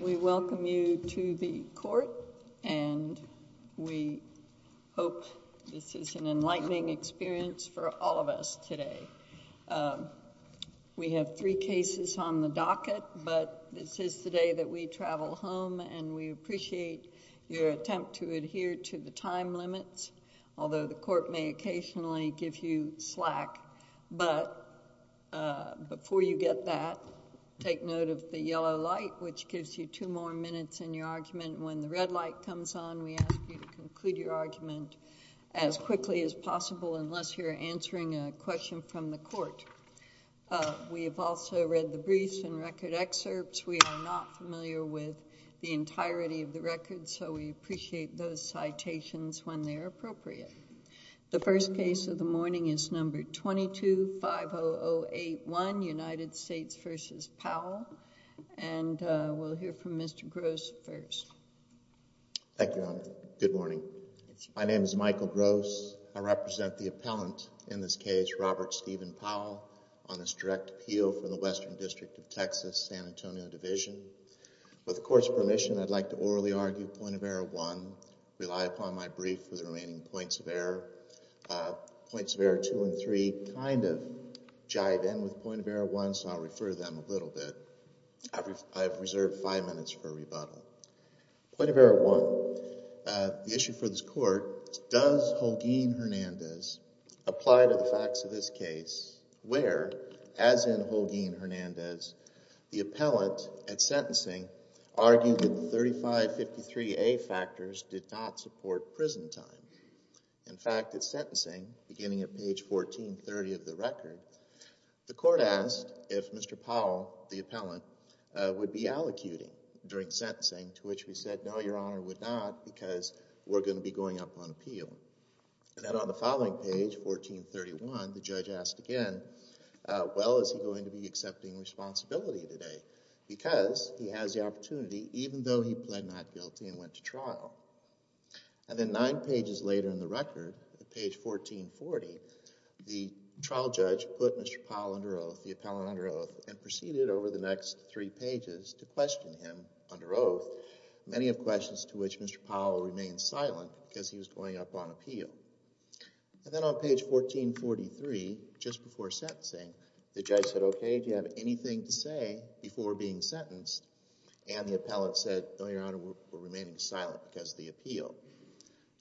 We welcome you to the court, and we hope this is an enlightening experience for all of us today. We have three cases on the docket, but this is the day that we travel home, and we appreciate your attempt to adhere to the time limits, although the court may occasionally give you slack. But before you get that, take note of the yellow light, which gives you two more minutes in your argument. When the red light comes on, we ask you to conclude your argument as quickly as possible, unless you're answering a question from the court. We have also read the briefs and record excerpts. We are not familiar with the entirety of the records, so we appreciate those citations when they are appropriate. The first case of the morning is number 22-50081, United States v. Powell, and we'll hear from Mr. Gross first. Thank you, Your Honor. Good morning. My name is Michael Gross. I represent the appellant in this case, Robert Stephen Powell, on this direct appeal for the Western District of Texas, San Antonio Division. With the court's permission, I'd like to orally argue point of error one, rely upon my brief for the remaining points of error, points of error two and three, kind of jive in with point of error one, so I'll refer to them a little bit. I have reserved five minutes for rebuttal. Point of error one, the issue for this court, does Holguin-Hernandez apply to the facts of this case where, as in Holguin-Hernandez, the appellant at sentencing argued that the 3553A factors did not support prison time. In fact, at sentencing, beginning at page 1430 of the record, the court asked if Mr. Powell, the appellant, would be allocuting during sentencing, to which we said, no, Your Honor, would not because we're going to be going up on appeal. And then on the following page, 1431, the judge asked again, well, is he going to be accepting responsibility today? Because he has the opportunity, even though he pled not guilty and went to trial. And then nine pages later in the record, at page 1440, the trial judge put Mr. Powell under oath, the appellant under oath, and proceeded over the next three pages to question him under oath, many of questions to which Mr. Powell remained silent because he was going up on appeal. And then on page 1443, just before sentencing, the judge said, okay, do you have anything to say before being sentenced? And the appellant said, no, Your Honor, we're remaining silent because of the appeal.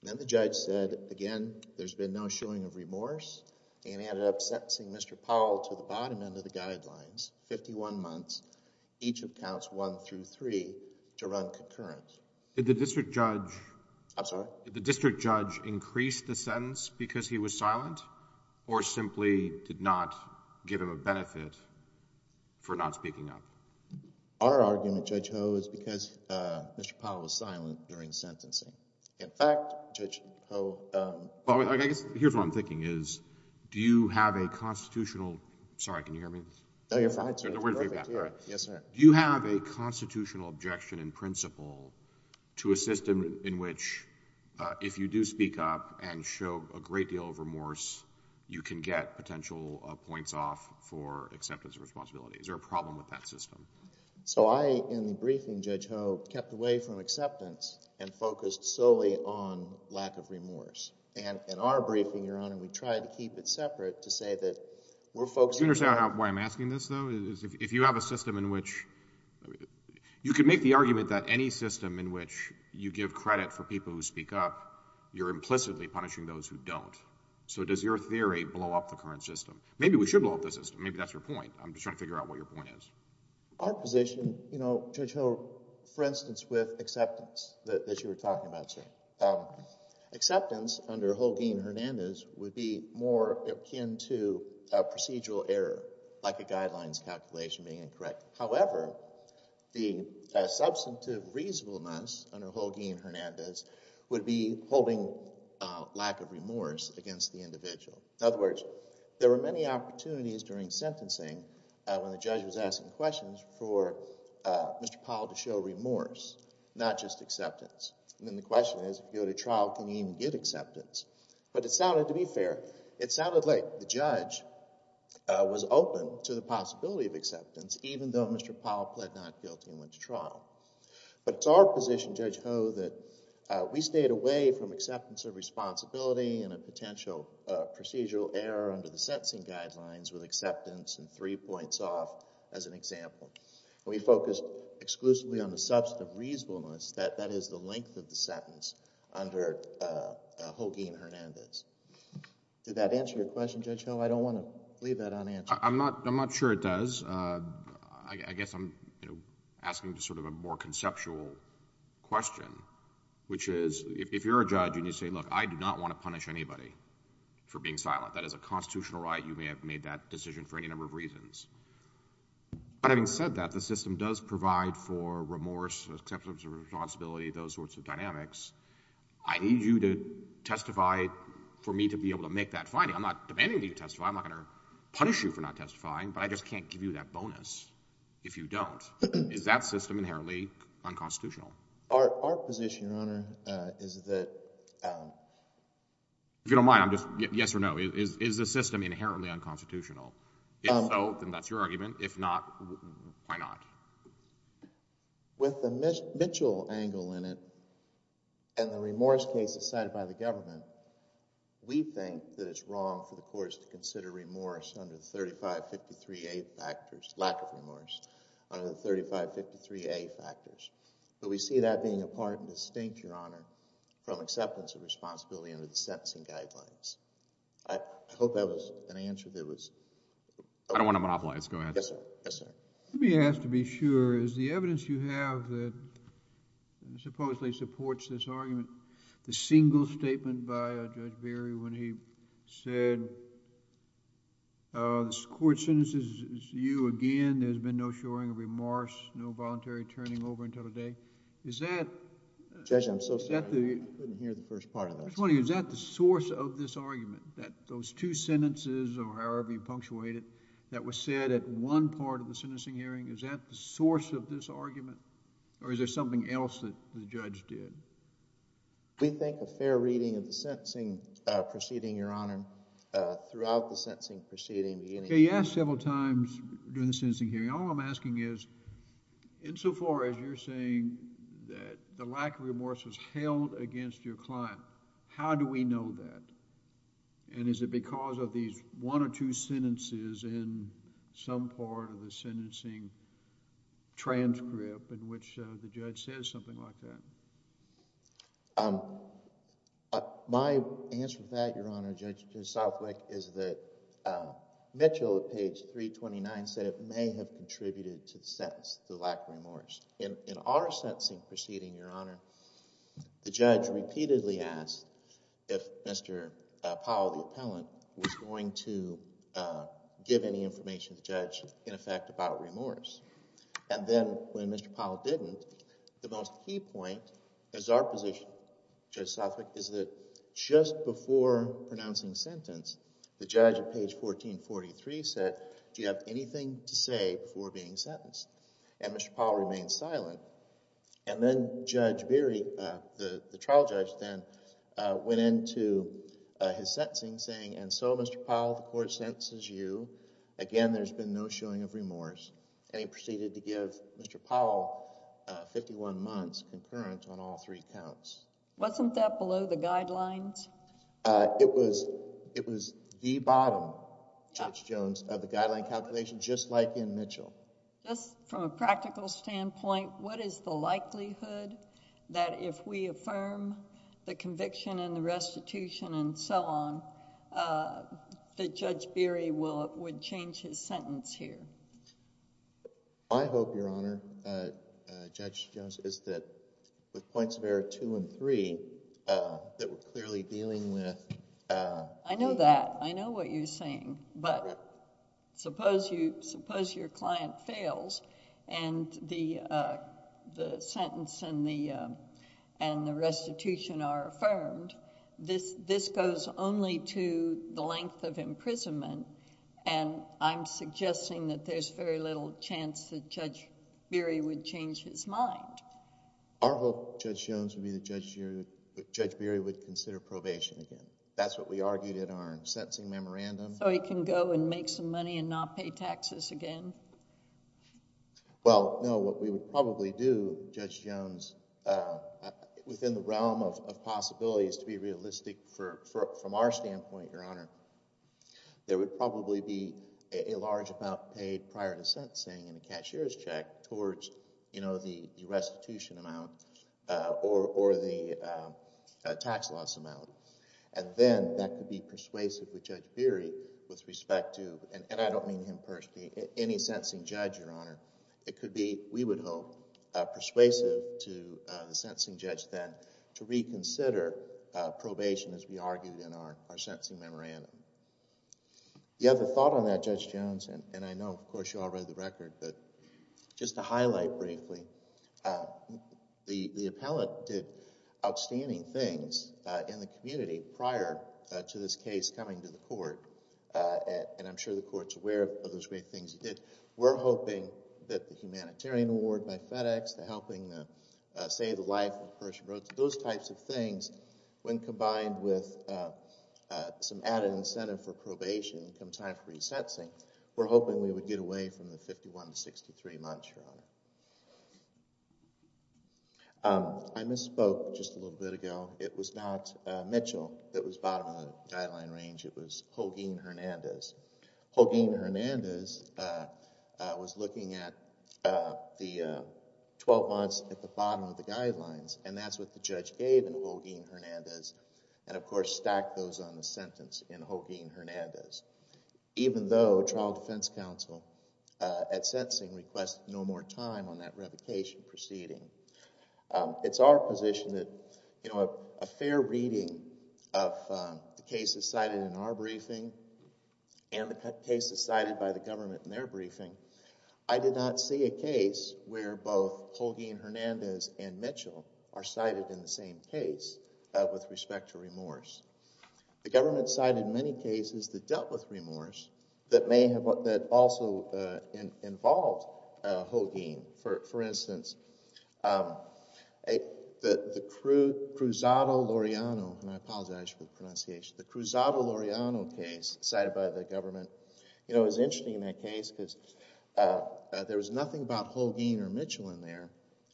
Then the judge said, again, there's been no showing of remorse and ended up sentencing Mr. Powell to the bottom end of the guidelines, 51 months, each of counts one through three, to run concurrent. Did the district judge... I'm sorry? Did the district judge increase the sentence because he was silent or simply did not give him a benefit for not speaking up? Our argument, Judge Ho, is because Mr. Powell was silent during sentencing. In fact, Judge Ho... Well, I guess here's what I'm thinking is, do you have a constitutional... sorry, can you hear me? No, you're fine, sir. We're in feedback, right? Yes, sir. Do you have a constitutional objection in principle to a system in which if you do speak up and show a great deal of remorse, you can get potential points off for acceptance of responsibility? Is there a problem with that system? So I, in the briefing, Judge Ho, kept away from acceptance and focused solely on lack of remorse. And in our briefing, Your Honor, we tried to keep it separate to say that we're focusing... Do you understand why I'm asking this, though? If you have a system in which... you could make the argument that any system in which you give credit for people who speak up, you're implicitly punishing those who don't. So does your theory blow up the current system? Maybe we should blow up the system. Maybe that's your point. I'm just trying to figure out what your point is. Our position, you know, Judge Ho, for instance, with acceptance that you were talking about, sir, acceptance under Holguin-Hernandez would be more akin to procedural error, like a guidelines calculation being incorrect. However, the substantive reasonableness under Holguin-Hernandez would be holding lack of remorse against the individual. In other words, there were many opportunities during sentencing when the judge was asking questions for Mr. Powell to show remorse, not just acceptance. And then the question is, if you go to trial, can you even get acceptance? But it sounded, to be fair, it sounded like the judge was open to the possibility of acceptance even though Mr. Powell pled not guilty and went to trial. But it's our position, Judge Ho, that we stayed away from acceptance of responsibility and a potential procedural error under the sentencing guidelines with acceptance and three points off as an example. We focused exclusively on the substantive reasonableness. That is the length of the sentence under Holguin-Hernandez. Did that answer your question, Judge Ho? I don't want to leave that unanswered. I'm not sure it does. I guess I'm asking sort of a more conceptual question, which is if you're a judge and you say, look, I do not want to punish anybody for being silent. That is a constitutional right. You may have made that decision for any number of reasons. But having said that, the system does provide for remorse, acceptance of responsibility, those sorts of dynamics. I need you to testify for me to be able to make that finding. I'm not demanding that you testify. I'm not going to punish you for not testifying. But I just can't give you that bonus if you don't. Is that system inherently unconstitutional? Our position, Your Honor, is that— If you don't mind, I'm just—yes or no. Is the system inherently unconstitutional? If so, then that's your argument. If not, why not? With the Mitchell angle in it and the remorse case decided by the government, we think that it's wrong for the courts to consider remorse under the 3553A factors, lack of remorse, under the 3553A factors. But we see that being a part and distinct, Your Honor, from acceptance of responsibility under the sentencing guidelines. I hope that was an answer that was— I don't want to monopolize. Go ahead. Yes, sir. Yes, sir. Let me ask to be sure. Is the evidence you have that supposedly supports this argument, the single statement by Judge Berry when he said this court sentences you again. There's been no shoring of remorse, no voluntary turning over until today. Is that— Judge, I'm so sorry. I couldn't hear the first part of that. I'm just wondering, is that the source of this argument, that those two sentences, or however you punctuate it, that was said at one part of the sentencing hearing? Is that the source of this argument, or is there something else that the judge did? We think a fair reading of the sentencing proceeding, Your Honor, throughout the sentencing proceeding— You asked several times during the sentencing hearing. All I'm asking is, insofar as you're saying that the lack of remorse was held against your client, how do we know that? And is it because of these one or two sentences in some part of the sentencing transcript in which the judge says something like that? My answer to that, Your Honor, Judge Southwick, is that Mitchell at page 329 said it may have contributed to the sentence, the lack of remorse. In our sentencing proceeding, Your Honor, the judge repeatedly asked if Mr. Powell, the appellant, was going to give any information to the judge in effect about remorse. And then when Mr. Powell didn't, the most key point is our position, Judge Southwick, is that just before pronouncing sentence, the judge at page 1443 said, Do you have anything to say before being sentenced? And Mr. Powell remained silent. And then Judge Beery, the trial judge then, went into his sentencing saying, And so, Mr. Powell, the court sentences you. Again, there's been no showing of remorse. And he proceeded to give Mr. Powell 51 months concurrent on all three counts. Wasn't that below the guidelines? It was the bottom, Judge Jones, of the guideline calculation, just like in Mitchell. Just from a practical standpoint, what is the likelihood that if we affirm the conviction and the restitution and so on, that Judge Beery would change his sentence here? My hope, Your Honor, Judge Jones, is that with points of error two and three, that we're clearly dealing with... I know that. I know what you're saying. But suppose your client fails and the sentence and the restitution are affirmed, this goes only to the length of imprisonment. And I'm suggesting that there's very little chance that Judge Beery would change his mind. Our hope, Judge Jones, would be that Judge Beery would consider probation again. That's what we argued in our sentencing memorandum. So he can go and make some money and not pay taxes again? Well, no. What we would probably do, Judge Jones, within the realm of possibilities, to be realistic from our standpoint, Your Honor, there would probably be a large amount paid prior to sentencing in a cashier's check towards the restitution amount or the tax loss amount. And then that could be persuasive with Judge Beery with respect to... and I don't mean him personally, any sentencing judge, Your Honor. It could be, we would hope, persuasive to the sentencing judge then to reconsider probation as we argued in our sentencing memorandum. You have a thought on that, Judge Jones, and I know, of course, you all read the record. But just to highlight briefly, the appellate did outstanding things in the community prior to this case coming to the court. And I'm sure the court's aware of those great things he did. We're hoping that the humanitarian award by FedEx, the helping to save the life of a person, those types of things, when combined with some added incentive for probation come time for resentencing, we're hoping we would get away from the 51 to 63 months, Your Honor. I misspoke just a little bit ago. It was not Mitchell that was bottom of the guideline range. It was Holguin Hernandez. Holguin Hernandez was looking at the 12 months at the bottom of the guidelines, and that's what the judge gave in Holguin Hernandez, and, of course, stacked those on the sentence in Holguin Hernandez. Even though trial defense counsel at sentencing requested no more time on that revocation proceeding. It's our position that a fair reading of the cases cited in our briefing and the cases cited by the government in their briefing, I did not see a case where both Holguin Hernandez and Mitchell are cited in the same case with respect to remorse. The government cited many cases that dealt with remorse that also involved Holguin. For instance, the Cruzado-Loreano case cited by the government, it was interesting in that case because there was nothing about Holguin or Mitchell in there,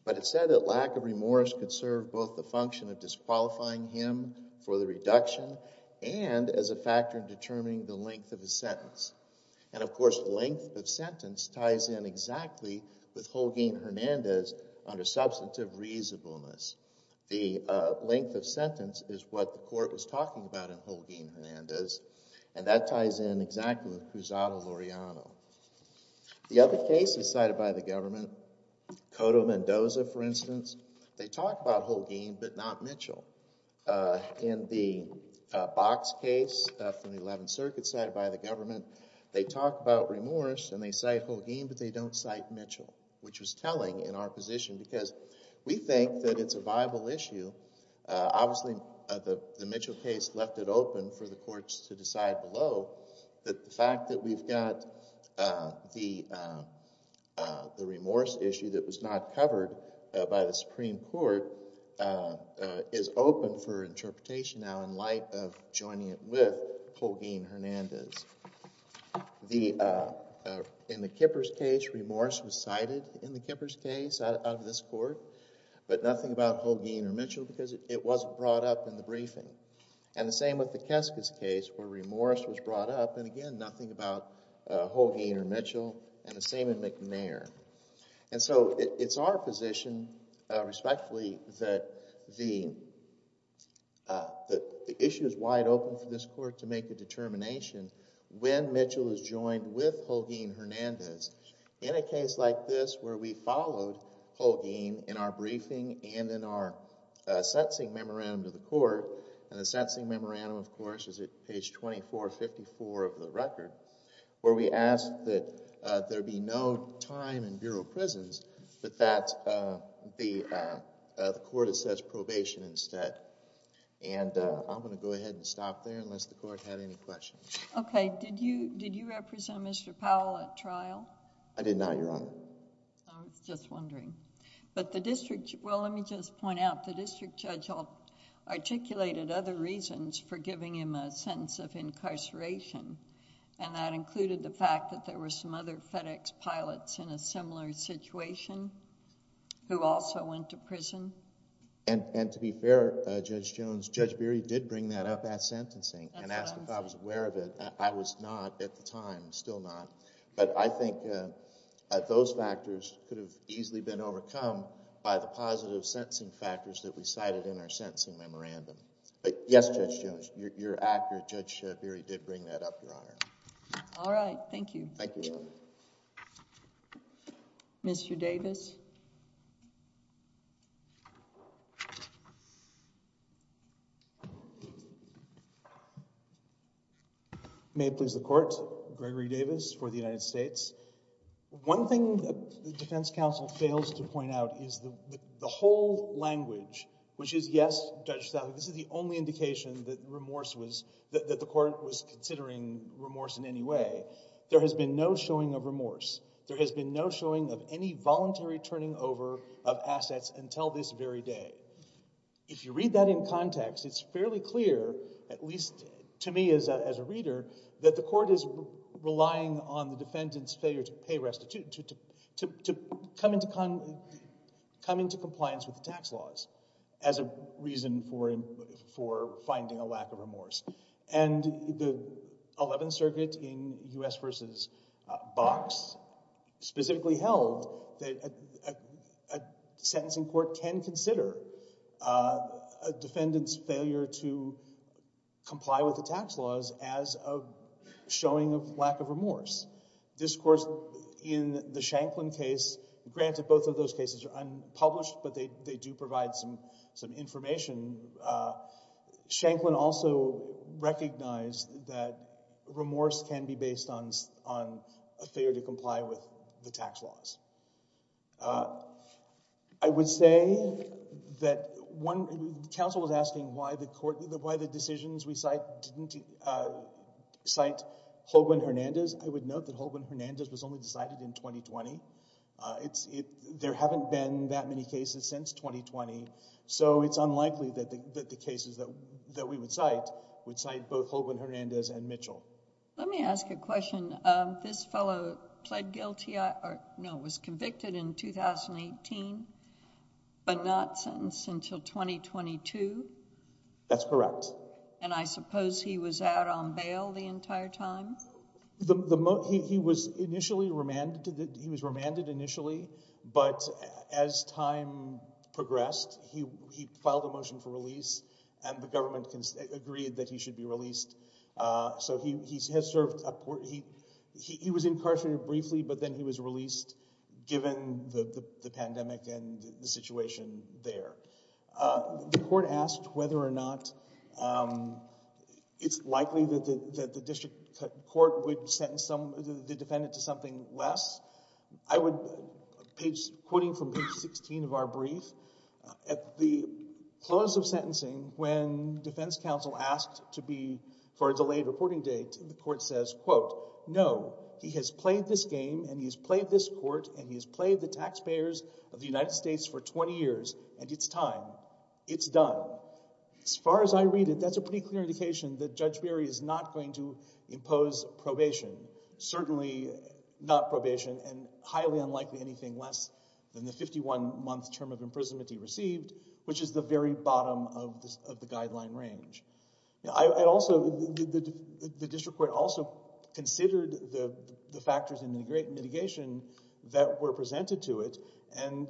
but it said that lack of remorse could serve both the function of disqualifying him for the reduction and as a factor in determining the length of the sentence. And, of course, length of sentence ties in exactly with Holguin Hernandez under substantive reasonableness. The length of sentence is what the court was talking about in Holguin Hernandez, and that ties in exactly with Cruzado-Loreano. The other cases cited by the government, Cotto-Mendoza, for instance, they talk about Holguin but not Mitchell. In the Box case from the Eleventh Circuit cited by the government, they talk about remorse and they cite Holguin but they don't cite Mitchell, which was telling in our position because we think that it's a viable issue. Obviously, the Mitchell case left it open for the courts to decide below that the fact that we've got the remorse issue that was not covered by the Supreme Court is open for interpretation now in light of joining it with Holguin Hernandez. In the Kippers case, remorse was cited in the Kippers case out of this court, but nothing about Holguin or Mitchell because it wasn't brought up in the briefing. And the same with the Keskis case where remorse was brought up, and again, nothing about Holguin or Mitchell, and the same in McNair. And so it's our position, respectfully, that the issue is wide open for this court to make a determination when Mitchell is joined with Holguin Hernandez in a case like this where we followed Holguin in our briefing and in our sentencing memorandum to the court. And the sentencing memorandum, of course, is at page 2454 of the record where we ask that there be no time in bureau prisons but that the court has such probation instead. And I'm going to go ahead and stop there unless the court had any questions. Okay. Did you represent Mr. Powell at trial? I did not, Your Honor. I was just wondering. But the district... well, let me just point out the district judge articulated other reasons for giving him a sentence of incarceration, and that included the fact that there were some other FedEx pilots in a similar situation who also went to prison. And to be fair, Judge Jones, Judge Beery did bring that up at sentencing and asked if I was aware of it. I was not at the time, still not. But I think that those factors could have easily been overcome by the positive sentencing factors that we cited in our sentencing memorandum. But yes, Judge Jones, you're accurate. Judge Beery did bring that up, Your Honor. Thank you. Thank you, Your Honor. Mr. Davis? May it please the Court. Gregory Davis for the United States. One thing that the defense counsel fails to point out is the whole language, which is yes, Judge Statham, this is the only indication that remorse was... that the court was considering remorse in any way. There has been no showing of any voluntary turning over of assets until this very day. If you read that in context, it's fairly clear, at least to me as a reader, that the court is relying on the defendant's failure to pay... to come into compliance with the tax laws as a reason for finding a lack of remorse. And the Eleventh Circuit in U.S. v. Box specifically held that a sentencing court can consider a defendant's failure to comply with the tax laws as a showing of lack of remorse. This, of course, in the Shanklin case, granted both of those cases are unpublished, but they do provide some information. Shanklin also recognized that remorse can be based on a failure to comply with the tax laws. I would say that one... the counsel was asking why the decisions we cite didn't cite Holguin-Hernandez. I would note that Holguin-Hernandez was only decided in 2020. There haven't been that many cases since 2020. So, it's unlikely that the cases that we would cite would cite both Holguin-Hernandez and Mitchell. Let me ask a question. This fellow pled guilty... no, was convicted in 2018, but not sentenced until 2022? That's correct. And, I suppose he was out on bail the entire time? He was remanded initially, but as time progressed, he filed a motion for release, and the government agreed that he should be released. So, he has served... he was incarcerated briefly, but then he was released given the pandemic and the situation there. The court asked whether or not it's likely that the district court would sentence the defendant to something less. I would... quoting from page 16 of our brief, at the close of sentencing, when defense counsel asked to be... for a delayed reporting date, the court says, quote, No, he has played this game, and he has played this court, and he has played the taxpayers of the United States for 20 years, and it's time. It's done. As far as I read it, that's a pretty clear indication that Judge Berry is not going to impose probation. Certainly not probation, and highly unlikely anything less than the 51-month term of imprisonment he received, which is the very bottom of the guideline range. I also... the district court also considered the factors in the great mitigation that were presented to it, and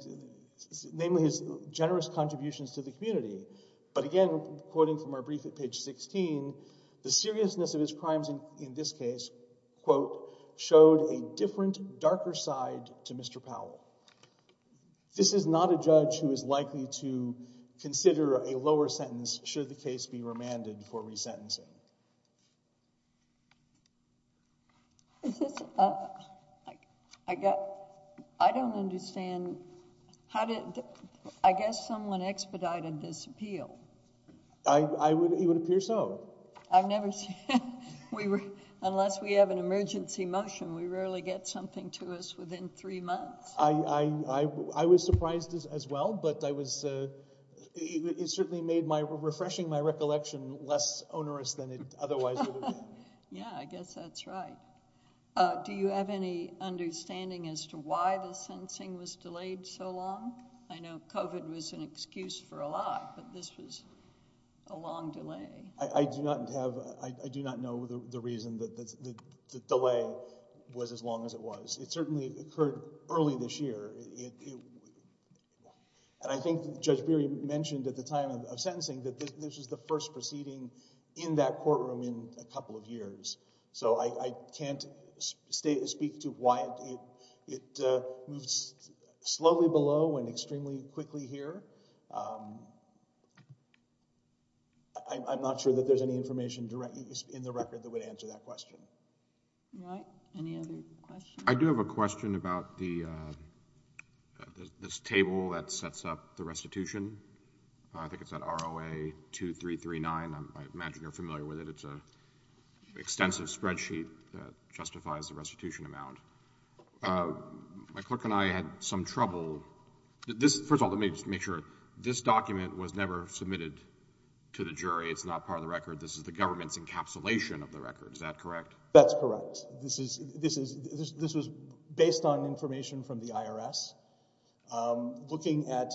namely his generous contributions to the community. But again, quoting from our brief at page 16, the seriousness of his crimes in this case, quote, showed a different, darker side to Mr. Powell. This is not a judge who is likely to consider a lower sentence should the case be remanded for resentencing. Is this... I don't understand. How did... I guess someone expedited this appeal. It would appear so. I've never... unless we have an emergency motion, we rarely get something to us within three months. I was surprised as well, but I was... it certainly made refreshing my recollection less onerous than it otherwise would have been. Yeah, I guess that's right. Do you have any understanding as to why the sentencing was delayed so long? I know COVID was an excuse for a lot, but this was a long delay. I do not have... I do not know the reason that the delay was as long as it was. It certainly occurred early this year. And I think Judge Beery mentioned at the time of sentencing that this was the first proceeding in that courtroom in a couple of years. So I can't speak to why it moves slowly below and extremely quickly here. I'm not sure that there's any information in the record that would answer that question. All right. Any other questions? I do have a question about this table that sets up the restitution. I think it's at ROA 2339. I imagine you're familiar with it. It's an extensive spreadsheet that justifies the restitution amount. My clerk and I had some trouble... First of all, let me just make sure. This document was never submitted to the jury. It's not part of the record. This is the government's encapsulation of the record. Is that correct? That's correct. This was based on information from the IRS. Looking at...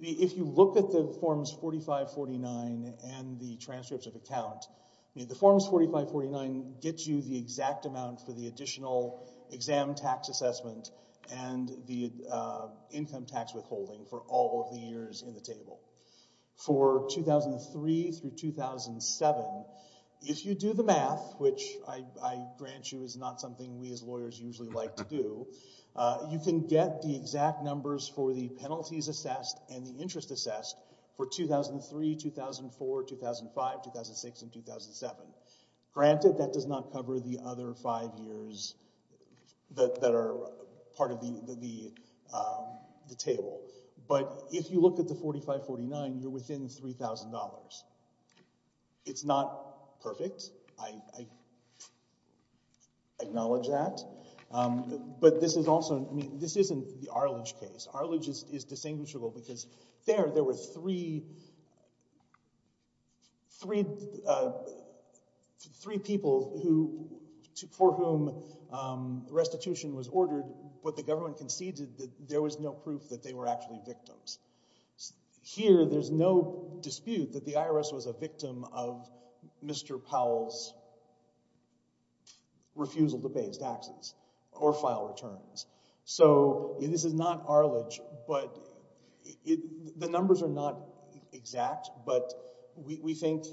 If you look at the Forms 4549 and the transcripts of account, the Forms 4549 gets you the exact amount for the additional exam tax assessment and the income tax withholding for all of the years in the table. For 2003 through 2007, if you do the math, which I grant you is not something we as lawyers usually like to do, you can get the exact numbers for the penalties assessed and the interest assessed for 2003, 2004, 2005, 2006, and 2007. Granted, that does not cover the other five years that are part of the table, but if you look at the 4549, you're within $3,000. It's not perfect. I acknowledge that, but this is also... I mean, this isn't the Arledge case. Arledge is distinguishable because there, there were three people for whom restitution was ordered, but the government conceded that there was no proof that they were actually victims. Here, there's no dispute that the IRS was a victim of Mr. Powell's refusal to pay his taxes or file returns. So this is not Arledge, but the numbers are not exact, but we think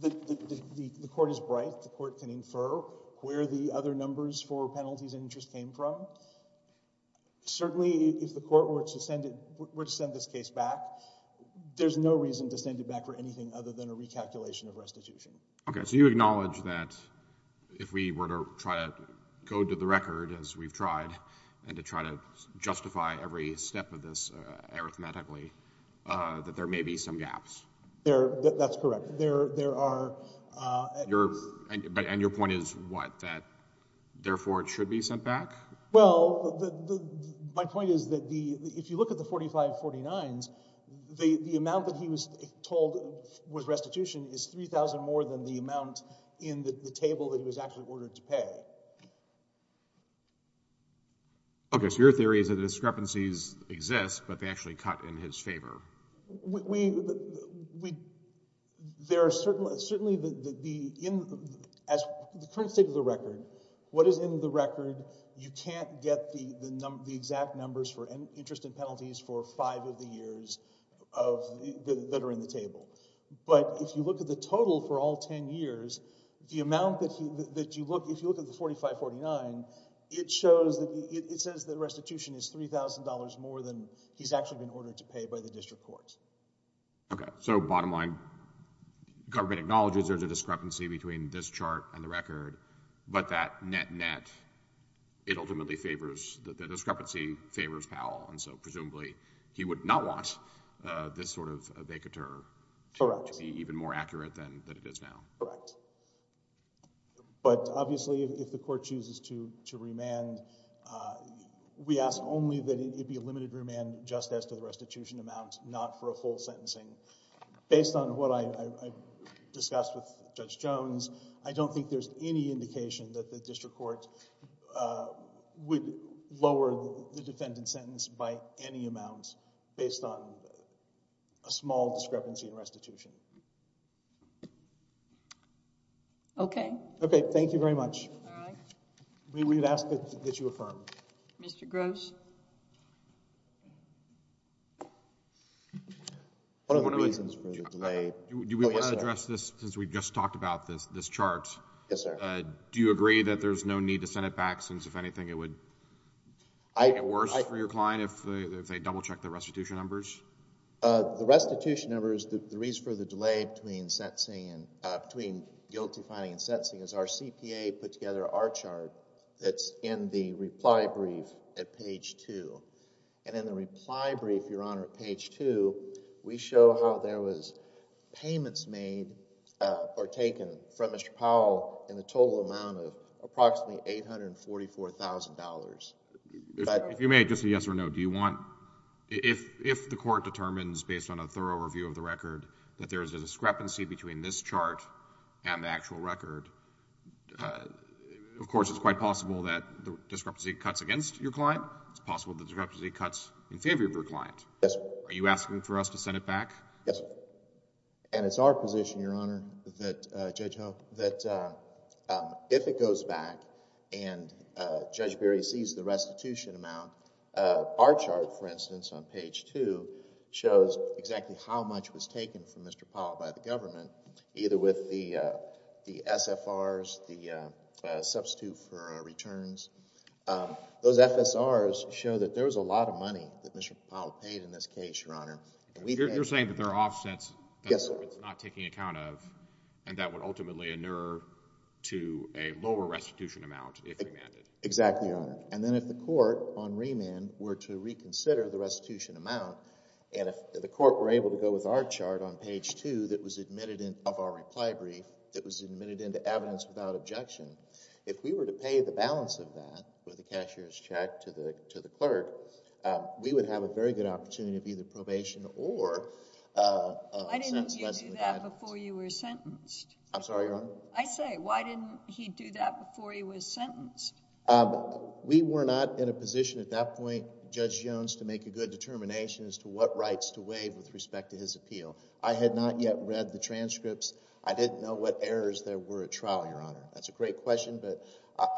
the court is bright. The court can infer where the other numbers for penalties and interest came from. Certainly, if the court were to send this case back, there's no reason to send it back for anything other than a recalculation of restitution. Okay. So you acknowledge that if we were to try to go to the record, as we've tried, and to try to justify every step of this arithmetically, that there may be some gaps? That's correct. And your point is what, that therefore it should be sent back? Well, my point is that if you look at the 4549s, the amount that he was told was restitution is 3,000 more than the amount in the table that he was actually ordered to pay. Okay. So your theory is that the discrepancies exist, but they actually cut in his favor. We, there are certain, certainly the, as the current state of the record, what is in the record, you can't get the exact numbers for interest and penalties for five of the years of, that are in the table. But if you look at the total for all 10 years, the amount that you look, if you look at the 4549, it shows that, it says that restitution is $3,000 more than he's actually been ordered to pay by the district court. Okay. So bottom line, government acknowledges there's a discrepancy between this chart and the record, but that net-net, it ultimately favors, the discrepancy favors Powell, and so presumably he would not want this sort of vacatur to be even more accurate than it is now. Correct. But obviously if the court chooses to remand, we ask only that it be a limited remand just as to the restitution amount, not for a full sentencing. Based on what I discussed with Judge Jones, I don't think there's any indication that the district court would lower the defendant's sentence by any amount, based on a small discrepancy in restitution. Okay. Okay. Thank you very much. All right. We would ask that you affirm. Mr. Gross. One of the reasons for the delay. Do we want to address this since we just talked about this chart? Yes, sir. Do you agree that there's no need to send it back since, if anything, it would make it worse for your client if they double-check the restitution numbers? The restitution number is the reason for the delay between guilty finding and sentencing is our CPA put together our chart that's in the reply brief at page 2. And in the reply brief, Your Honor, at page 2, we show how there was payments made or taken from Mr. Powell in the total amount of approximately $844,000. If you may, just a yes or no. If the court determines, based on a thorough review of the record, that there is a discrepancy between this chart and the actual record, of course it's quite possible that the discrepancy cuts against your client. It's possible the discrepancy cuts in favor of your client. Yes, sir. Are you asking for us to send it back? Yes, sir. And it's our position, Your Honor, that Judge Ho, that if it goes back and Judge Berry sees the restitution amount, our chart, for instance, on page 2, shows exactly how much was taken from Mr. Powell by the government, either with the SFRs, the substitute for returns. Those FSRs show that there was a lot of money that Mr. Powell paid in this case, Your Honor. You're saying that there are offsets that the government's not taking account of and that would ultimately inure to a lower restitution amount if remanded. Exactly, Your Honor. And then if the court, on remand, were to reconsider the restitution amount and if the court were able to go with our chart on page 2 of our reply brief that was admitted into evidence without objection, if we were to pay the balance of that with a cashier's check to the clerk, we would have a very good opportunity of either probation or a sentence less than the guidance. Why didn't you do that before you were sentenced? I'm sorry, Your Honor? I say, why didn't he do that before he was sentenced? We were not in a position at that point, Judge Jones, to make a good determination as to what rights to waive with respect to his appeal. I had not yet read the transcripts. I didn't know what errors there were at trial, Your Honor. That's a great question, but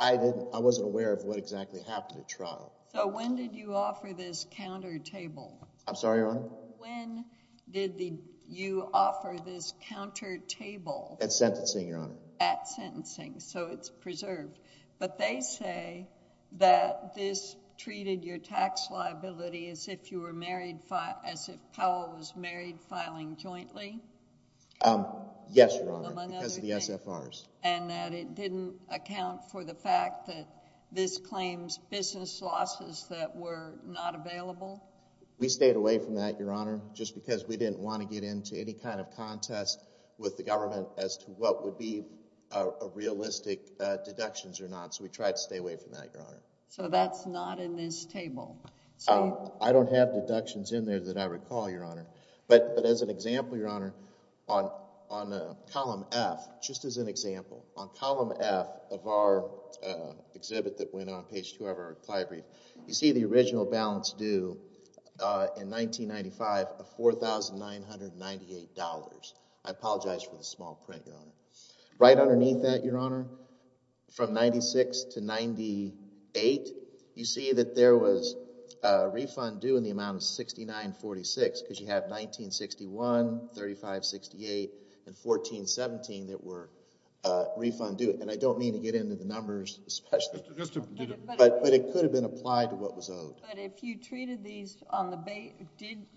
I wasn't aware of what exactly happened at trial. So when did you offer this counter table? I'm sorry, Your Honor? When did you offer this counter table? At sentencing, Your Honor. At sentencing, so it's preserved. But they say that this treated your tax liability as if Powell was married filing jointly? Yes, Your Honor, because of the SFRs. And that it didn't account for the fact that this claims business losses that were not available? We stayed away from that, Your Honor, just because we didn't want to get into any kind of contest with the government as to what would be realistic deductions or not. So we tried to stay away from that, Your Honor. So that's not in this table? I don't have deductions in there that I recall, Your Honor. But as an example, Your Honor, on column F, just as an example, on column F of our exhibit that went on page 2 of our ply brief, you see the original balance due in 1995 of $4,998. I apologize for the small print, Your Honor. Right underneath that, Your Honor, from 96 to 98, you see that there was a refund due in the amount of $69.46 because you have $19.61, $35.68, and $14.17 that were refund due. And I don't mean to get into the numbers especially. But it could have been applied to what was owed. But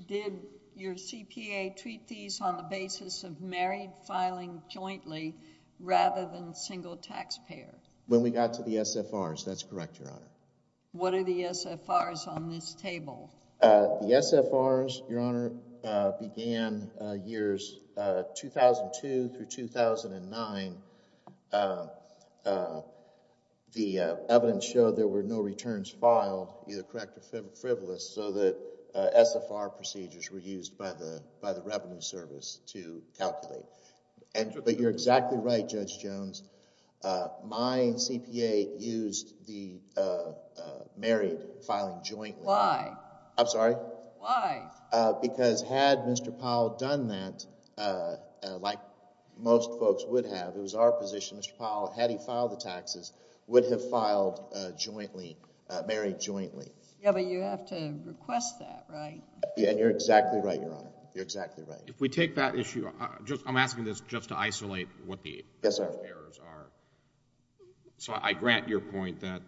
did your CPA treat these on the basis of married filing jointly rather than single taxpayer? When we got to the SFRs, that's correct, Your Honor. What are the SFRs on this table? The SFRs, Your Honor, began years 2002 through 2009. The evidence showed there were no returns filed, either correct or frivolous, so the SFR procedures were used by the Revenue Service to calculate. But you're exactly right, Judge Jones. My CPA used the married filing jointly. Why? I'm sorry? Why? Because had Mr. Powell done that like most folks would have, it was our position Mr. Powell, had he filed the taxes, would have filed jointly, married jointly. Yeah, but you have to request that, right? And you're exactly right, Your Honor. You're exactly right. If we take that issue, I'm asking this just to isolate what the errors are. So I grant your point that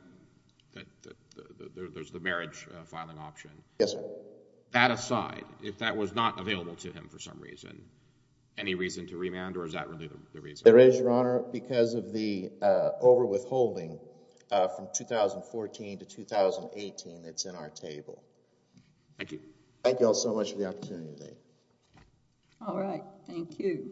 there's the marriage filing option. Yes, sir. That aside, if that was not available to him for some reason, any reason to remand or is that really the reason? There is, Your Honor, because of the overwithholding from 2014 to 2018 that's in our table. Thank you. Thank you all so much for the opportunity today. All right. Thank you.